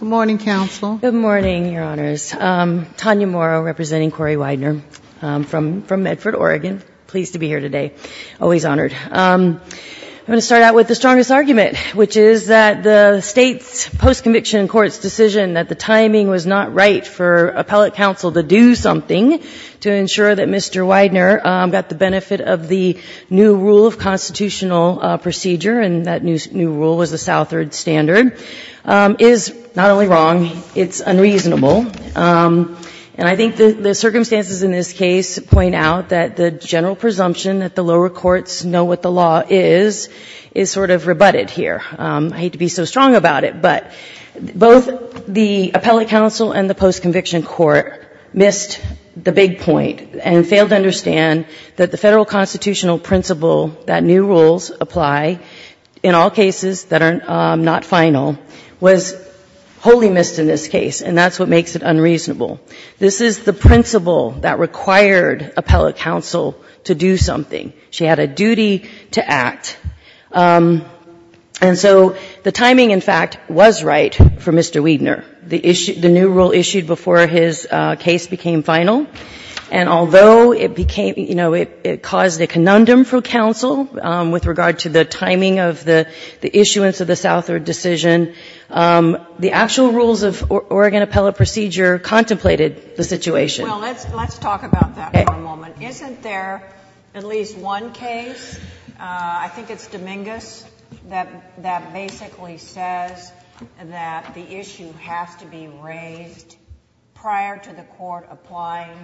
Good morning, Counsel. Good morning, Your Honors. Tanya Morrow representing Corey Weidner from Medford, Oregon. Pleased to be here today. Always honored. I'm going to start out with the strongest argument, which is that the state's post-conviction court's decision that the timing was not right for appellate counsel to do something to ensure that Mr. Weidner got the benefit of the new rule of constitutional procedure, and that new rule was the Southard standard, is not only wrong, it's unreasonable. And I think the circumstances in this case point out that the general presumption that the lower courts know what the law is, is sort of rebutted here. I hate to be so strong about it, but both the appellate counsel and the post-conviction court missed the big point and failed to understand that the Federal constitutional principle that new rules apply, in all cases that are not final, was wholly missed in this case, and that's what makes it unreasonable. This is the principle that required appellate counsel to do something. She had a duty to act. And so the timing, in fact, was right for Mr. Weidner. The new rule issued before his case became final, and although it became, you know, it caused a conundrum for counsel with regard to the timing of the issuance of the Southard decision, the actual rules of Oregon appellate procedure contemplated the situation. Well, let's talk about that for a moment. Isn't there at least one case, I think it's Dominguez, that basically says that the issue has to be raised prior to the court applying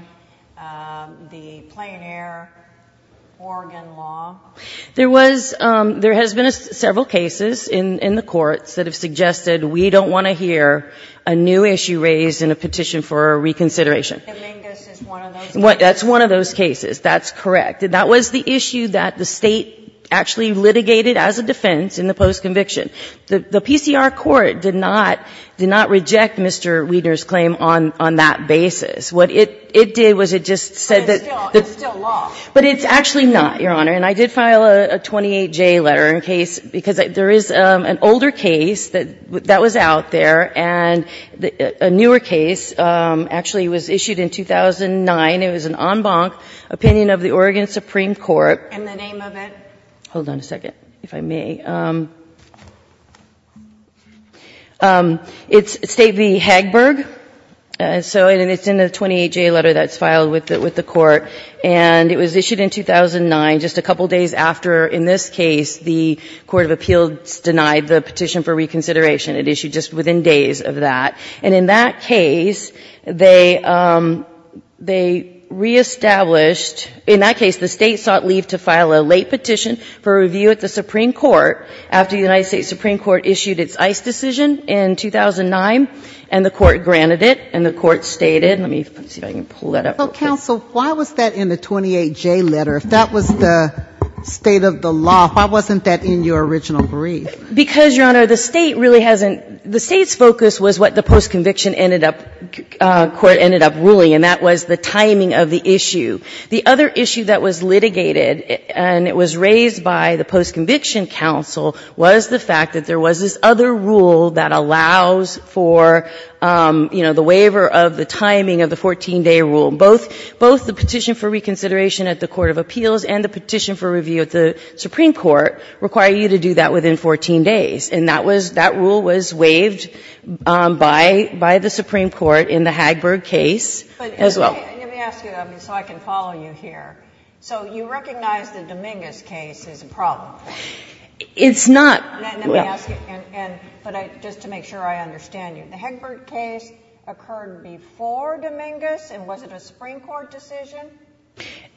the plein air Oregon law? There was — there has been several cases in the courts that have suggested we don't want to hear a new issue raised in a petition for a reconsideration. Dominguez is one of those cases. That's one of those cases. That's correct. That was the issue that the State actually litigated as a defense in the post-conviction. The PCR court did not — did not reject Mr. Weidner's claim on that basis. What it did was it just said that the — But it's still — it's still law. But it's actually not, Your Honor. And I did file a 28J letter in case — because there is an older case that was out there, and a newer case actually was issued in 2009. It was an en banc opinion of the Oregon Supreme Court. In the name of it? Hold on a second, if I may. It's State v. Hagberg. So it's in the 28J letter that's filed with the court. And it was issued in 2009, just a couple days after, in this case, the Court of Appeals denied the petition for reconsideration. It issued just within days of that. And in that case, they reestablished — in that case, the State sought leave to file a late petition for review at the Supreme Court after the United States Supreme Court issued its ICE decision in 2009. And the court granted it. And the court stated — let me see if I can pull that up. Well, counsel, why was that in the 28J letter? If that was the state of the law, why wasn't that in your original brief? Because, Your Honor, the State really hasn't — the State's focus was what the post-conviction ended up — court ended up ruling. And that was the timing of the issue. The other issue that was litigated, and it was raised by the post-conviction counsel, was the fact that there was this other rule that allows for, you know, the waiver of the timing of the 14-day rule. Both — both the petition for reconsideration at the Court of Appeals and the petition for review at the Supreme Court require you to do that within 14 days. And that was — that rule was waived by — by the Supreme Court in the Hagberg case as well. Let me ask you, so I can follow you here. So you recognize the Dominguez case as a problem? It's not — Let me ask you — and — but I — just to make sure I understand you. The Hagberg case occurred before Dominguez? And was it a Supreme Court decision?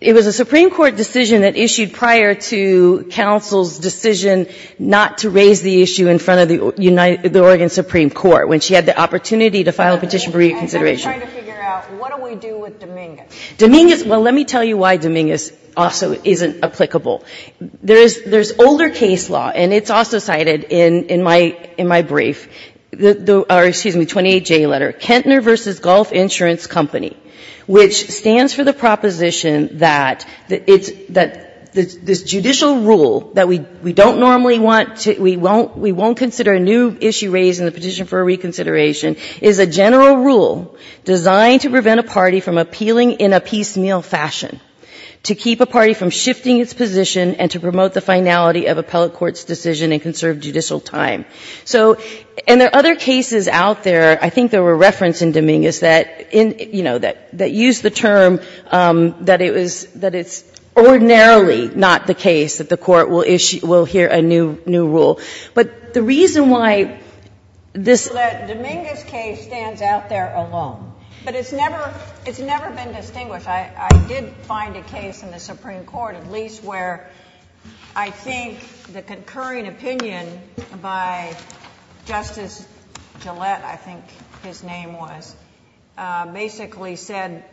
It was a Supreme Court decision that issued prior to counsel's decision not to raise the issue in front of the United — the Oregon Supreme Court, when she had the opportunity to file a petition for reconsideration. I'm just trying to figure out, what do we do with Dominguez? Dominguez — well, let me tell you why Dominguez also isn't applicable. There is — there's older case law, and it's also cited in — in my — in my brief. The — or, excuse me, 28J letter, Kentner v. Golf Insurance Company, which stands for the proposition that it's — that this judicial rule that we don't normally want to — we won't consider a new issue raised in the petition for reconsideration is a general rule designed to prevent a party from appealing in a piecemeal fashion, to keep a party from shifting its position, and to promote the finality of appellate court's decision in conserved judicial time. So — and there are other cases out there, I think there were referenced in Dominguez that in — you know, that — that used the term that it was — that it's ordinarily not the case, that the Court will issue — will hear a new — new rule. But the reason why this — Well, that Dominguez case stands out there alone. But it's never — it's never been distinguished. I — I did find a case in the Supreme Court, at least, where I think the concurring opinion by Justice Gillette, I think his name was, basically said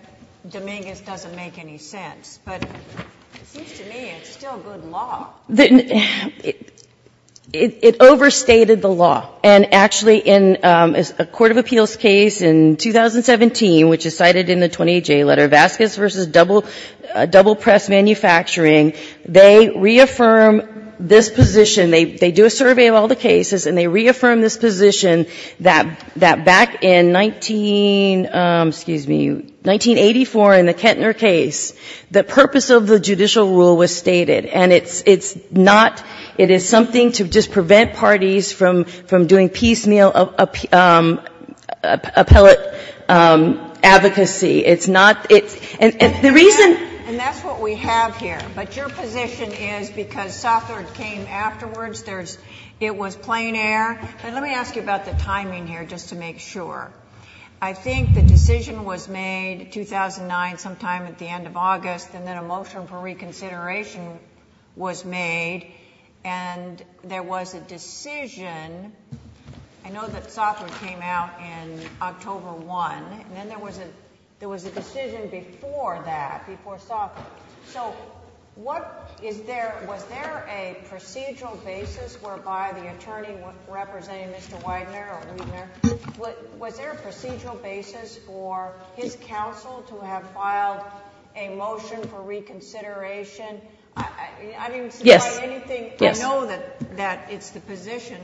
Dominguez doesn't make any sense. But it seems to me it's still good law. It overstated the law. And actually, in a court of appeals case in 2017, which is cited in the 28-J letter, Vasquez v. Double — Double Press Manufacturing, they reaffirm this position. They — they do a survey of all the cases, and they reaffirm this position that — that back in 19 — excuse me, 1984, in the Kettner case, the purpose of the judicial rule was stated. And it's — it's not — it is something to just prevent parties from — from doing piecemeal appellate advocacy. It's not — it's — and — and the reason — And that's what we have here. But your position is, because Sothard came afterwards, there's — it was plein air. But let me ask you about the timing here, just to make sure. I think the decision was made 2009, sometime at the end of August, and then a motion for reconsideration was made. And there was a decision — I know that Sothard came out in October 1. And then there was a — there was a decision before that, before Sothard. So what is there — was there a procedural basis whereby the attorney representing Mr. Weidner or Weidner — was there a procedural basis for his counsel to have filed a motion for reconsideration? I didn't — Yes. — supply anything. I know that — that it's the position,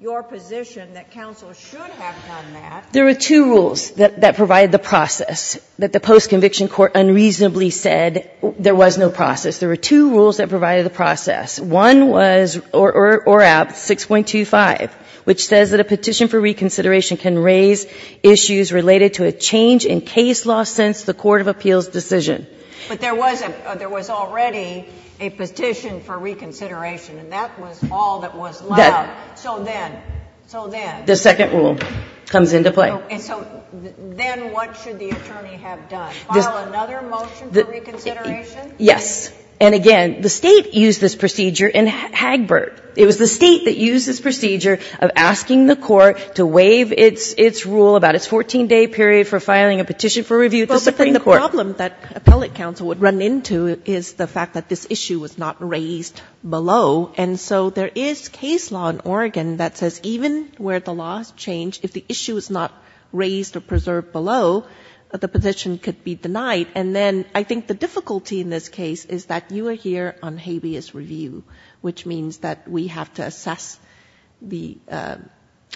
your position, that counsel should have done that. There were two rules that — that provided the process, that the post-conviction court unreasonably said there was no process. There were two rules that provided the process. One was — or at 6.25, which says that a petition for reconsideration can raise issues related to a change in case law since the Court of Appeals' decision. But there was a — there was already a petition for reconsideration. And that was all that was allowed. So then — so then — The second rule comes into play. And so then what should the attorney have done? File another motion for reconsideration? Yes. And again, the State used this procedure in Hagbard. It was the State that used this procedure of asking the court to waive its — its rule about its 14-day period for filing a petition for review at the Supreme Court. Well, but then the problem that appellate counsel would run into is the fact that this issue was not raised below. And so there is case law in Oregon that says even where the laws change, if the issue is not raised or preserved below, the petition could be denied. And then I think the difficulty in this case is that you are here on habeas review, which means that we have to assess the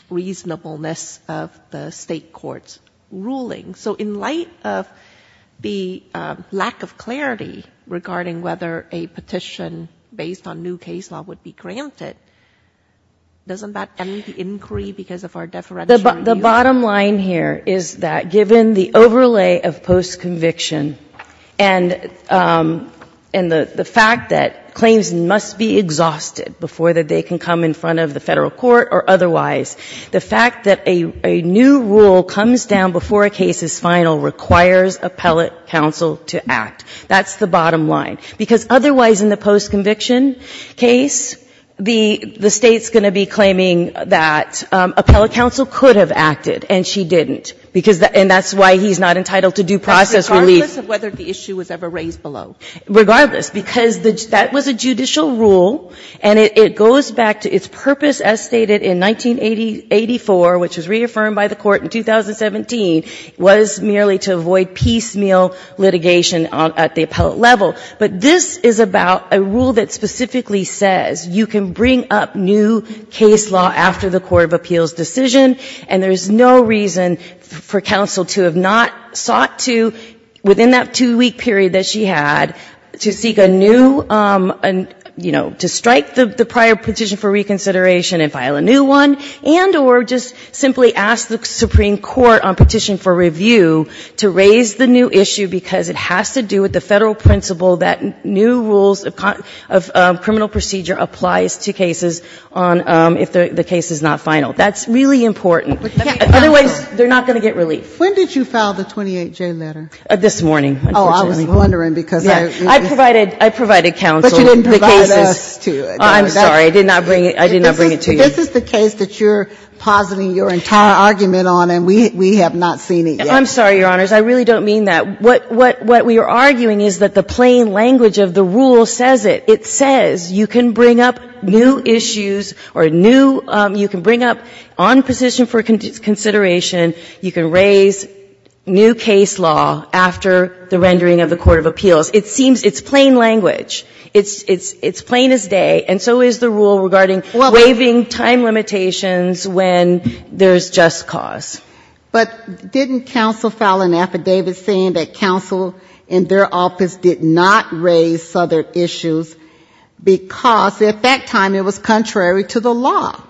reasonableness of the state court's ruling. So in light of the lack of clarity regarding whether a petition based on new case law would be granted, doesn't that end the inquiry because of our deferential review? The bottom line here is that given the overlay of postconviction and — and the fact that claims must be exhausted before they can come in front of the Federal court or otherwise, the fact that a new rule comes down before a case is final requires appellate counsel to act. That's the bottom line. Because otherwise in the postconviction case, the — the State's going to be claiming that appellate counsel could have acted, and she didn't, because — and that's why he's not entitled to due process relief. But regardless of whether the issue was ever raised below? Regardless, because that was a judicial rule, and it — it goes back to its purpose, as stated in 1984, which was reaffirmed by the Court in 2017, was merely to avoid piecemeal litigation at the appellate level. But this is about a rule that specifically says you can bring up new case law after the court of appeals decision, and there's no reason for counsel to have not sought to, within that two-week period that she had, to seek a new — you know, to strike the prior petition for reconsideration and file a new one, and or just simply ask the Supreme Court on petition for review to raise the new issue, because it has to do with the Federal principle that new rules of — of criminal procedure applies to cases on — if the — the case is not final. That's really important. Otherwise, they're not going to get relief. When did you file the 28J letter? This morning, unfortunately. Oh, I was wondering, because I — Yeah. I provided — I provided counsel the cases. But you didn't provide us to it. Oh, I'm sorry. I did not bring — I did not bring it to you. This is the case that you're positing your entire argument on, and we — we have not seen it yet. I'm sorry, Your Honors. I really don't mean that. What — what — what we are arguing is that the plain language of the rule says it. It says you can bring up new issues or new — you can bring up on petition for consideration, you can raise new case law after the rendering of the court of appeals. It seems — it's plain language. It's — it's — it's plain as day, and so is the rule regarding waiving two weeks and time limitations when there's just cause. But didn't counsel file an affidavit saying that counsel in their office did not raise other issues because, at that time, it was contrary to the law?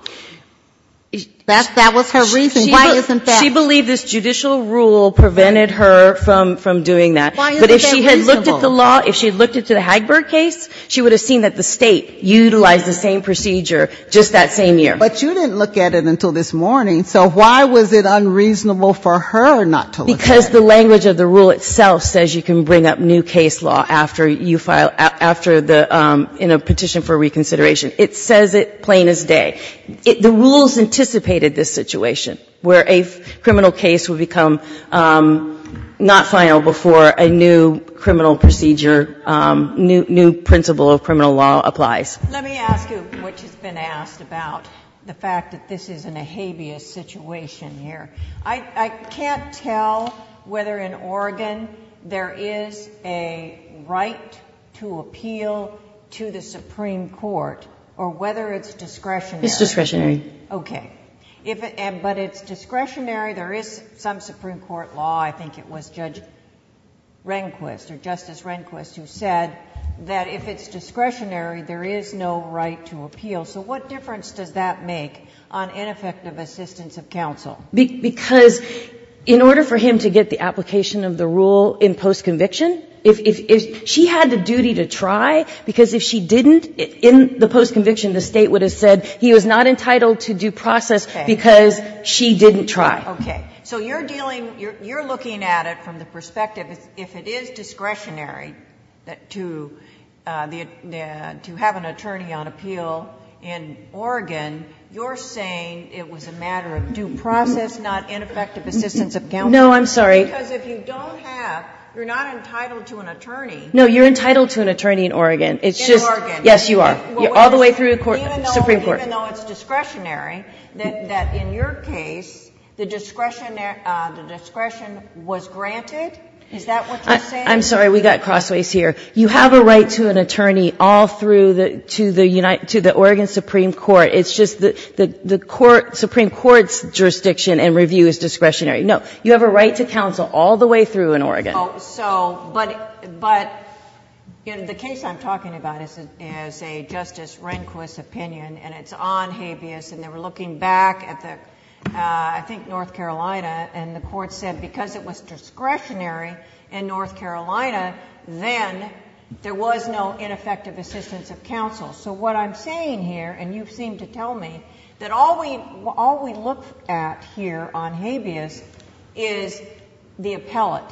That's — that was her reasoning. Why isn't that — She — she believed this judicial rule prevented her from — from doing that. Why isn't that reasonable? But if she had looked at the law, if she had looked at the Hagberg case, she would have seen that the State utilized the same procedure just that same year. But you didn't look at it until this morning, so why was it unreasonable for her not to look at it? Because the language of the rule itself says you can bring up new case law after you file — after the — in a petition for reconsideration. It says it plain as day. The rules anticipated this situation, where a criminal case would become not final before a new criminal procedure — new principle of criminal law applies. Let me ask you, which has been asked, about the fact that this is an ahabeous situation here. I can't tell whether in Oregon there is a right to appeal to the Supreme Court or whether it's discretionary. It's discretionary. Okay. If — and — but it's discretionary. There is some Supreme Court law — I think it was Judge Rehnquist or Justice Rehnquist who said that if it's discretionary, there is no right to appeal. So what difference does that make on ineffective assistance of counsel? Because in order for him to get the application of the rule in postconviction, if — if — if she had the duty to try, because if she didn't, in the postconviction, the State would have said he was not entitled to due process because she didn't try. Okay. So you're dealing — you're looking at it from the perspective, if it is discretionary that — to — to have an attorney on appeal in Oregon, you're saying it was a matter of due process, not ineffective assistance of counsel? No, I'm sorry. Because if you don't have — you're not entitled to an attorney. No, you're entitled to an attorney in Oregon. It's just — In Oregon. Yes, you are. All the way through the Supreme Court. Even though it's discretionary, that in your case, the discretion — the discretion was granted? Is that what you're saying? I'm sorry. We got crossways here. You have a right to an attorney all through the — to the — to the Oregon Supreme Court. It's just the court — Supreme Court's jurisdiction and review is discretionary. No. You have a right to counsel all the way through in Oregon. Oh, so — but — but, you know, the case I'm talking about is a Justice Rehnquist opinion, and it's on habeas, and they were looking back at the — I think North Carolina, and the court said because it was discretionary in North Carolina, then there was no ineffective assistance of counsel. So what I'm saying here, and you seem to tell me, that all we look at here on habeas is the appellate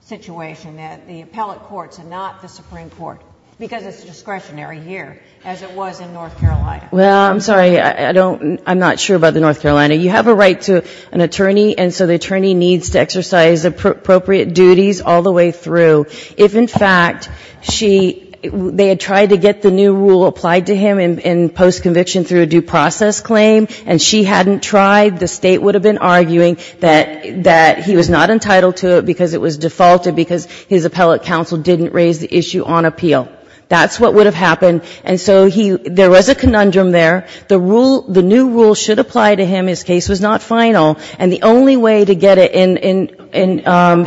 situation, that the appellate courts and not the Supreme Court, because it's discretionary here, as it was in North Carolina. Well, I'm sorry. I don't — I'm not sure about the North Carolina. You have a right to an attorney, and so the attorney needs to exercise appropriate duties all the way through. If, in fact, she — they had tried to get the new rule applied to him in post-conviction through a due process claim, and she hadn't tried, the State would have been arguing that — that he was not entitled to it because it was defaulted because his appellate counsel didn't raise the issue on appeal. That's what would have happened. And so he — there was a conundrum there. The rule — the new rule should apply to him. His case was not final. And the only way to get it in — in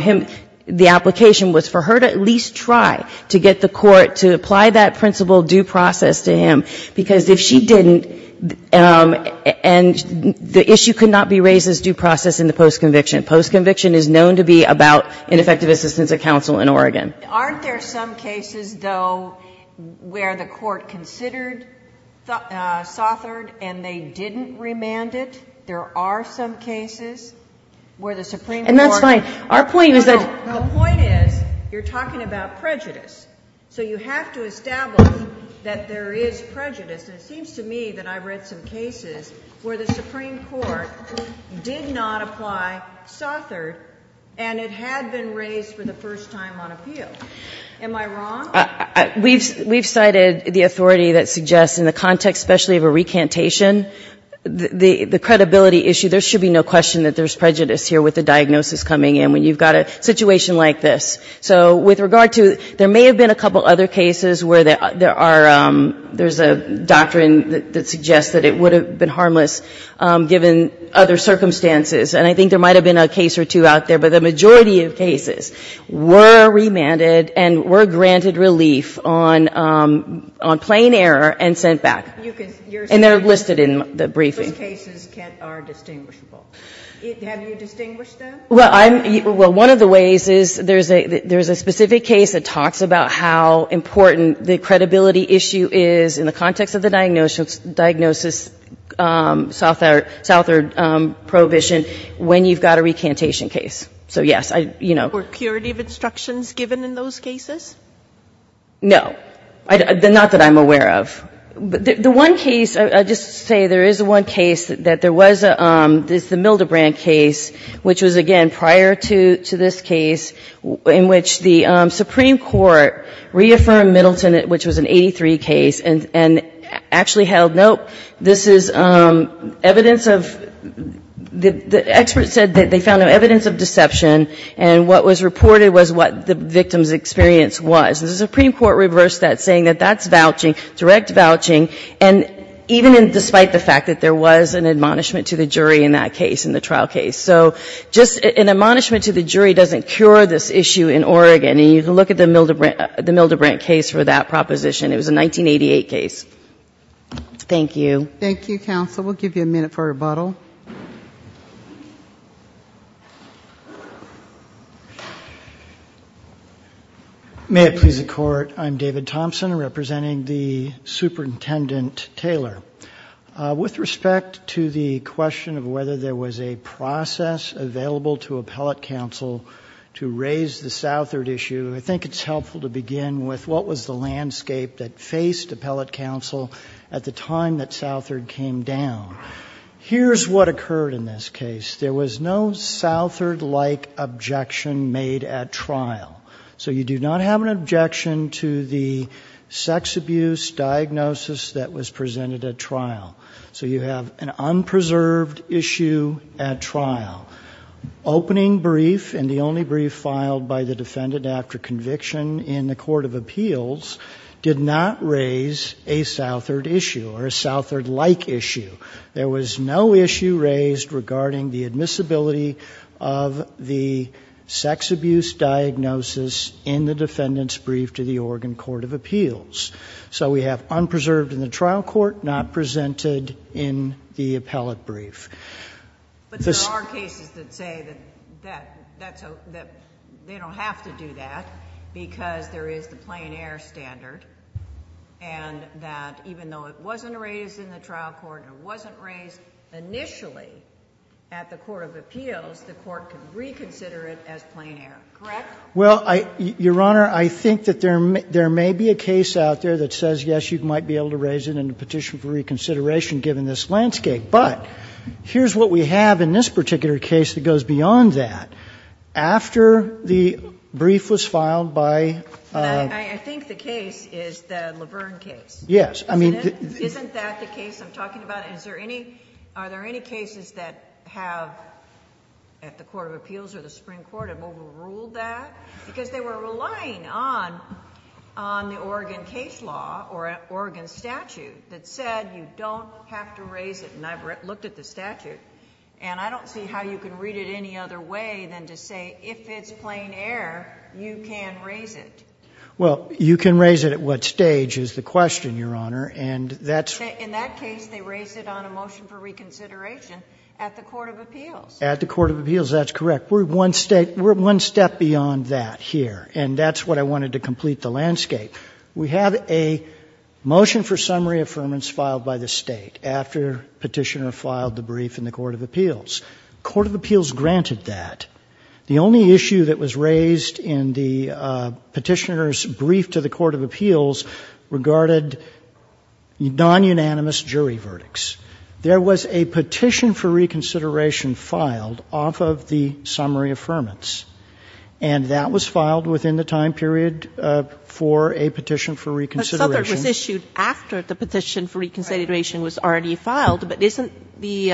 him — the application was for her to at least try to get the court to apply that principle due process to him, because if she didn't — and the issue could not be raised as due process in the post-conviction. Post-conviction is known to be about ineffective assistance of counsel in Oregon. Aren't there some cases, though, where the court considered — sauthored, and they didn't remand it? There are some cases where the Supreme Court — And that's fine. Our point is that — No, no. The point is, you're talking about prejudice. So you have to establish that there is prejudice. And it seems to me that I've read some cases where the Supreme Court did not apply sauthored, and it had been raised for the first time on appeal. Am I wrong? We've — we've cited the authority that suggests, in the context, especially, of a recantation, the — the credibility issue. There should be no question that there's prejudice here with the diagnosis coming in when you've got a situation like this. So with regard to — there may have been a couple other cases where there are — there's a doctrine that suggests that it would have been harmless given other circumstances. And I think there might have been a case or two out there. But the majority of cases were remanded and were granted relief on — on plain error and sent back. You can — you're saying — And they're listed in the briefing. — those cases can't — are distinguishable. Have you distinguished them? Well, I'm — well, one of the ways is there's a — there's a specific case that talks about how important the credibility issue is in the context of the diagnosis — diagnosis sauthored — sauthored prohibition when you've got a recantation case. So, yes, I — you know. Were curative instructions given in those cases? No. I — not that I'm aware of. The one case — I'll just say there is one case that there was a — this is the Mildebrand case, which was, again, prior to — to this case in which the Supreme Court reaffirmed Middleton, which was an 83 case, and — and actually held, nope, this is evidence of — the experts said that they found evidence of deception, and what was reported was what the victim's experience was. The Supreme Court reversed that, saying that that's vouching, direct vouching. And even despite the fact that there was an admonishment to the jury in that case, in the trial case. So just an admonishment to the jury doesn't cure this issue in Oregon. And you can look at the Mildebrand — the Mildebrand case for that proposition. It was a 1988 case. Thank you. Thank you, counsel. We'll give you a minute for rebuttal. May it please the Court, I'm David Thompson, representing the Superintendent Taylor. With respect to the question of whether there was a process available to appellate counsel to raise the Southard issue, I think it's helpful to begin with what was the landscape that occurred in this case. There was no Southard-like objection made at trial. So you do not have an objection to the sex abuse diagnosis that was presented at trial. So you have an unpreserved issue at trial. Opening brief, and the only brief filed by the defendant after conviction in the Court of Appeals, did not raise a Southard issue, or a Southard-like issue. There was no issue raised regarding the admissibility of the sex abuse diagnosis in the defendant's brief to the Oregon Court of Appeals. So we have unpreserved in the trial court, not presented in the appellate brief. But there are cases that say that they don't have to do that because there is the plain air standard, and that even though it wasn't raised in the trial court, it wasn't raised initially at the Court of Appeals, the Court could reconsider it as plain air. Correct? Well, Your Honor, I think that there may be a case out there that says, yes, you might be able to raise it in a petition for reconsideration given this landscape. But here's what we have in this particular case that goes beyond that. After the brief was filed by the defendant... I think the case is the Laverne case. Yes. Isn't that the case I'm talking about? Are there any cases that have, at the Court of Appeals or the Supreme Court, have overruled that? Because they were relying on the Oregon case law or Oregon statute that said you don't have to raise it. And I've looked at the statute, and I don't see how you can read it any other way than to say, if it's plain air, you can raise it. Well, you can raise it at what stage is the question, Your Honor, and that's... In that case, they raised it on a motion for reconsideration at the Court of Appeals. At the Court of Appeals, that's correct. We're one step beyond that here, and that's what I wanted to complete the landscape. We have a motion for summary affirmance filed by the State after Petitioner filed the brief in the Court of Appeals. The Court of Appeals Petitioner's brief to the Court of Appeals regarded non-unanimous jury verdicts. There was a petition for reconsideration filed off of the summary affirmance, and that was filed within the time period for a petition for reconsideration. But Southert was issued after the petition for reconsideration was already filed. But isn't the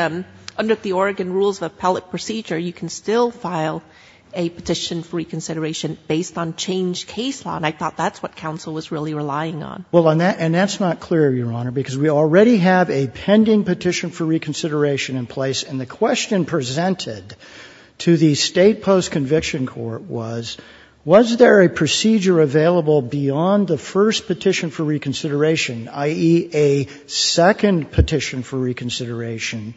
under the Oregon rules of appellate procedure, you can still file a petition for reconsideration based on changed case law? And I thought that's what counsel was really relying on. Well, and that's not clear, Your Honor, because we already have a pending petition for reconsideration in place, and the question presented to the State post-conviction court was, was there a procedure available beyond the first petition for reconsideration, i.e., a second petition for reconsideration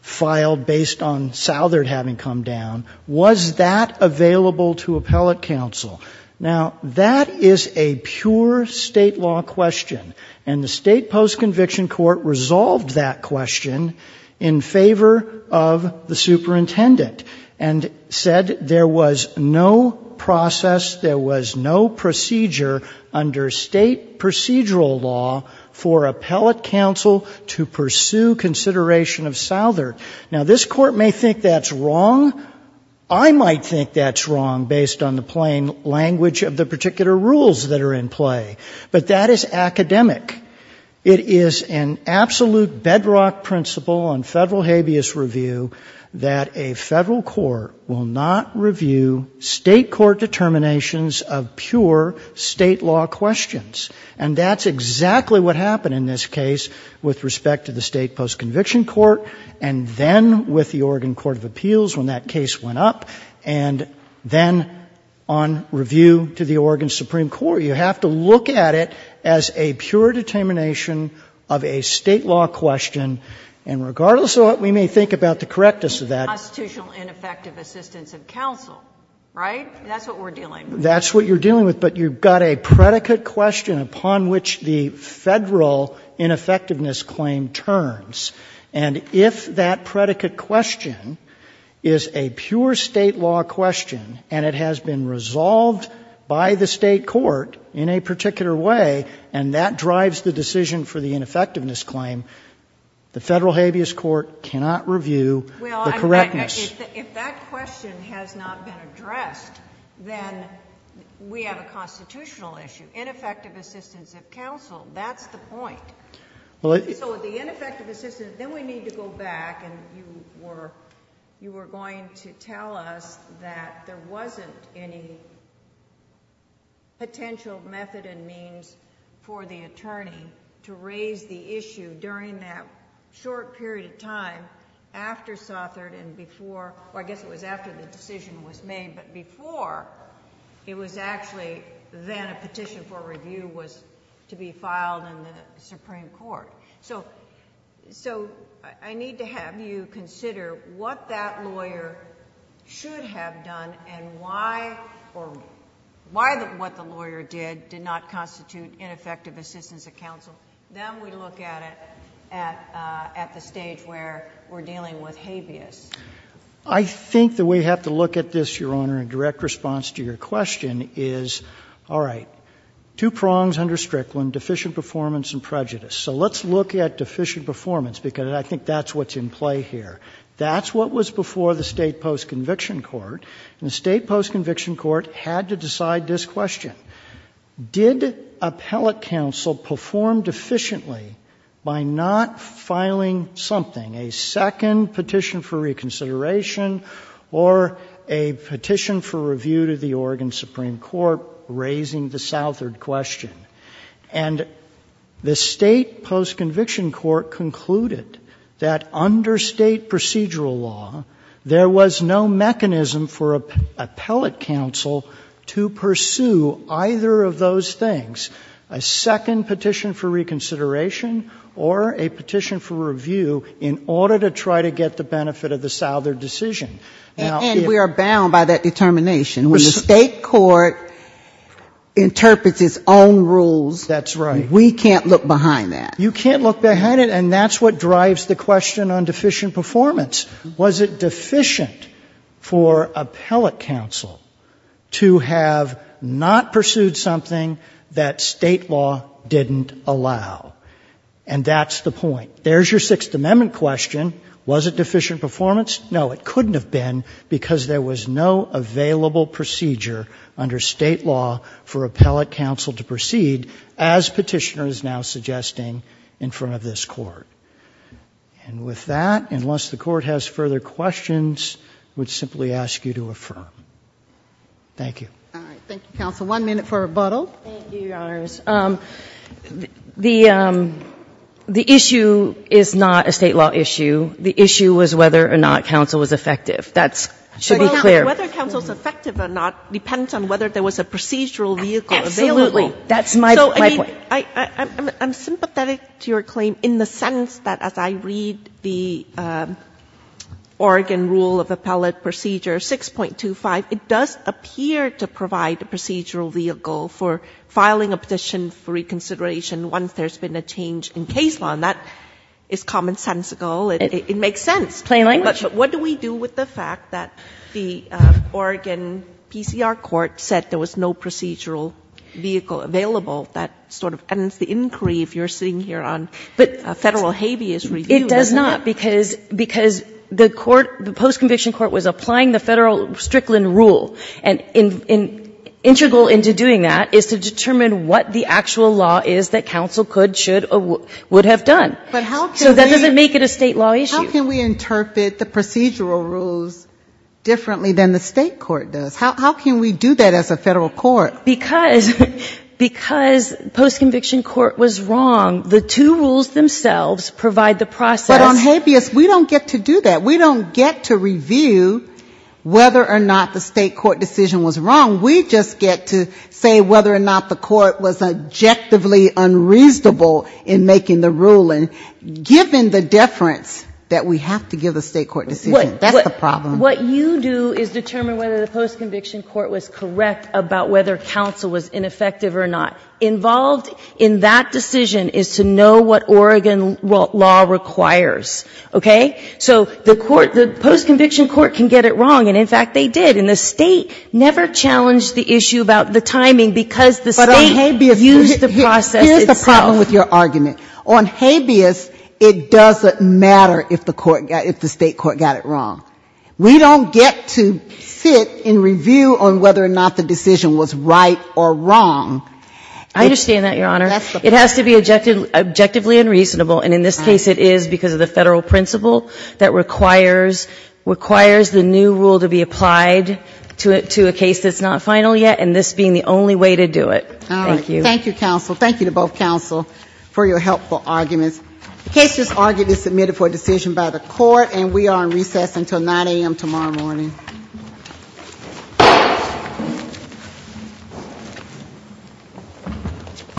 filed based on Southert having come down, was that available to appellate counsel? Now, that is a pure State law question, and the State post-conviction court resolved that question in favor of the superintendent and said there was no process, there was no procedure under State procedural law for appellate counsel to pursue consideration of Southert. Now this Court may think that's wrong. I might think that's wrong based on the plain language of the particular rules that are in play. But that is academic. It is an absolute bedrock principle on Federal habeas review that a Federal court will not review State court determinations of pure State law questions. And that's exactly what happened in this case with respect to the State post-conviction court, and then with the Oregon Court of Appeals when that case went up, and then on review to the Oregon Supreme Court. You have to look at it as a pure determination of a State law question, and regardless of what we may think about the correctness of that, it's a pure determination that we're dealing with. That's what you're dealing with, but you've got a predicate question upon which the Federal ineffectiveness claim turns. And if that predicate question is a pure State law question, and it has been resolved by the State court in a particular way, and that drives the decision for the ineffectiveness claim, the Federal habeas court cannot review the correctness. If that question has not been addressed, then we have a constitutional issue. Ineffective assistance of counsel, that's the point. So the ineffective assistance... then we need to go back and you were going to tell us that there wasn't any potential method and means for the attorney to raise the issue during that short period of time after Sothert and before... I guess it was after the decision was made, but before, it was actually then a petition for review was to be filed in the Supreme Court. So I need to have you consider what that lawyer should have done and why or what the lawyer did did not constitute ineffective assistance of counsel. Then we look at it at the stage where we're dealing with habeas. I think that we have to look at this, Your Honor, in direct response to your question is, all right, two prongs under Strickland, deficient performance and prejudice. So let's look at deficient performance because I think that's what's in play here. That's what was before the State post-conviction court. And the State post-conviction court had to decide this question. Did appellate counsel perform deficiently by not filing something, a second petition for reconsideration or a petition for review to the Oregon Supreme Court raising the Southert question? And the State post-conviction court concluded that under State procedural law, there was no mechanism for appellate counsel to pursue either of those things, a second petition for reconsideration or a petition for review, in order to try to get the benefit of the Southert decision. Now, if we are bound by that determination, when the State court interprets its own rules, that's right, we can't look behind that. You can't look behind it. And that's what drives the question on deficient performance. Was it deficient for appellate counsel to have not pursued something that State law didn't allow? And that's the point. There's your Sixth Amendment question. Was it deficient performance? No, it couldn't have been, because there was no available procedure under State law for appellate counsel to proceed, as Petitioner is now suggesting in front of this Court. And with that, unless the Court has further questions, I would simply ask you to affirm. Thank you. All right. Thank you, counsel. One minute for rebuttal. Thank you, Your Honors. The issue is not a State law issue. The issue was whether or not counsel was effective. That should be clear. Well, whether counsel is effective or not depends on whether there was a procedural vehicle available. Absolutely. That's my point. So, I mean, I'm sympathetic to your claim in the sense that as I read the Oregon Rule of Appellate Procedure 6.25, it does appear to provide a procedural vehicle for filing a petition for reconsideration once there's been a change in case law. And that is commonsensical. It makes sense. Plain language. But what do we do with the fact that the Oregon PCR Court said there was no procedural vehicle available? That sort of ends the inquiry, if you're sitting here on Federal habeas review. It does not, because the court, the post-conviction court was applying the Federal Strickland Rule. And integral into doing that is to determine what the actual law is that counsel could, should, or would have done. But how can we? So that doesn't make it a State law issue. How can we interpret the procedural rules differently than the State court does? How can we do that as a Federal court? Because, because post-conviction court was wrong, the two rules themselves provide the process. But on habeas, we don't get to do that. We don't get to review whether or not the State court decision was wrong. We just get to say whether or not the court was objectively unreasonable in making the ruling, given the deference that we have to give the State court decision. That's the problem. What you do is determine whether the post-conviction court was correct about whether counsel was ineffective or not. Involved in that decision is to know what Oregon law requires. Okay? So the court, the post-conviction court can get it wrong, and in fact, they did. And the State never challenged the issue about the timing, because the State used the process itself. But on habeas, here's the problem with your argument. On habeas, it doesn't matter if the State court got it wrong. We don't get to sit and review on whether or not the decision was right or wrong. I understand that, Your Honor. It has to be objectively unreasonable, and in this case it is because of the Federal principle that requires the new rule to be applied to a case that's not final yet, and this being the only way to do it. Thank you. All right. Thank you, counsel. Thank you to both counsel for your helpful arguments. The case is argued and submitted for decision by the court, and we are on recess until 9 a.m. tomorrow morning.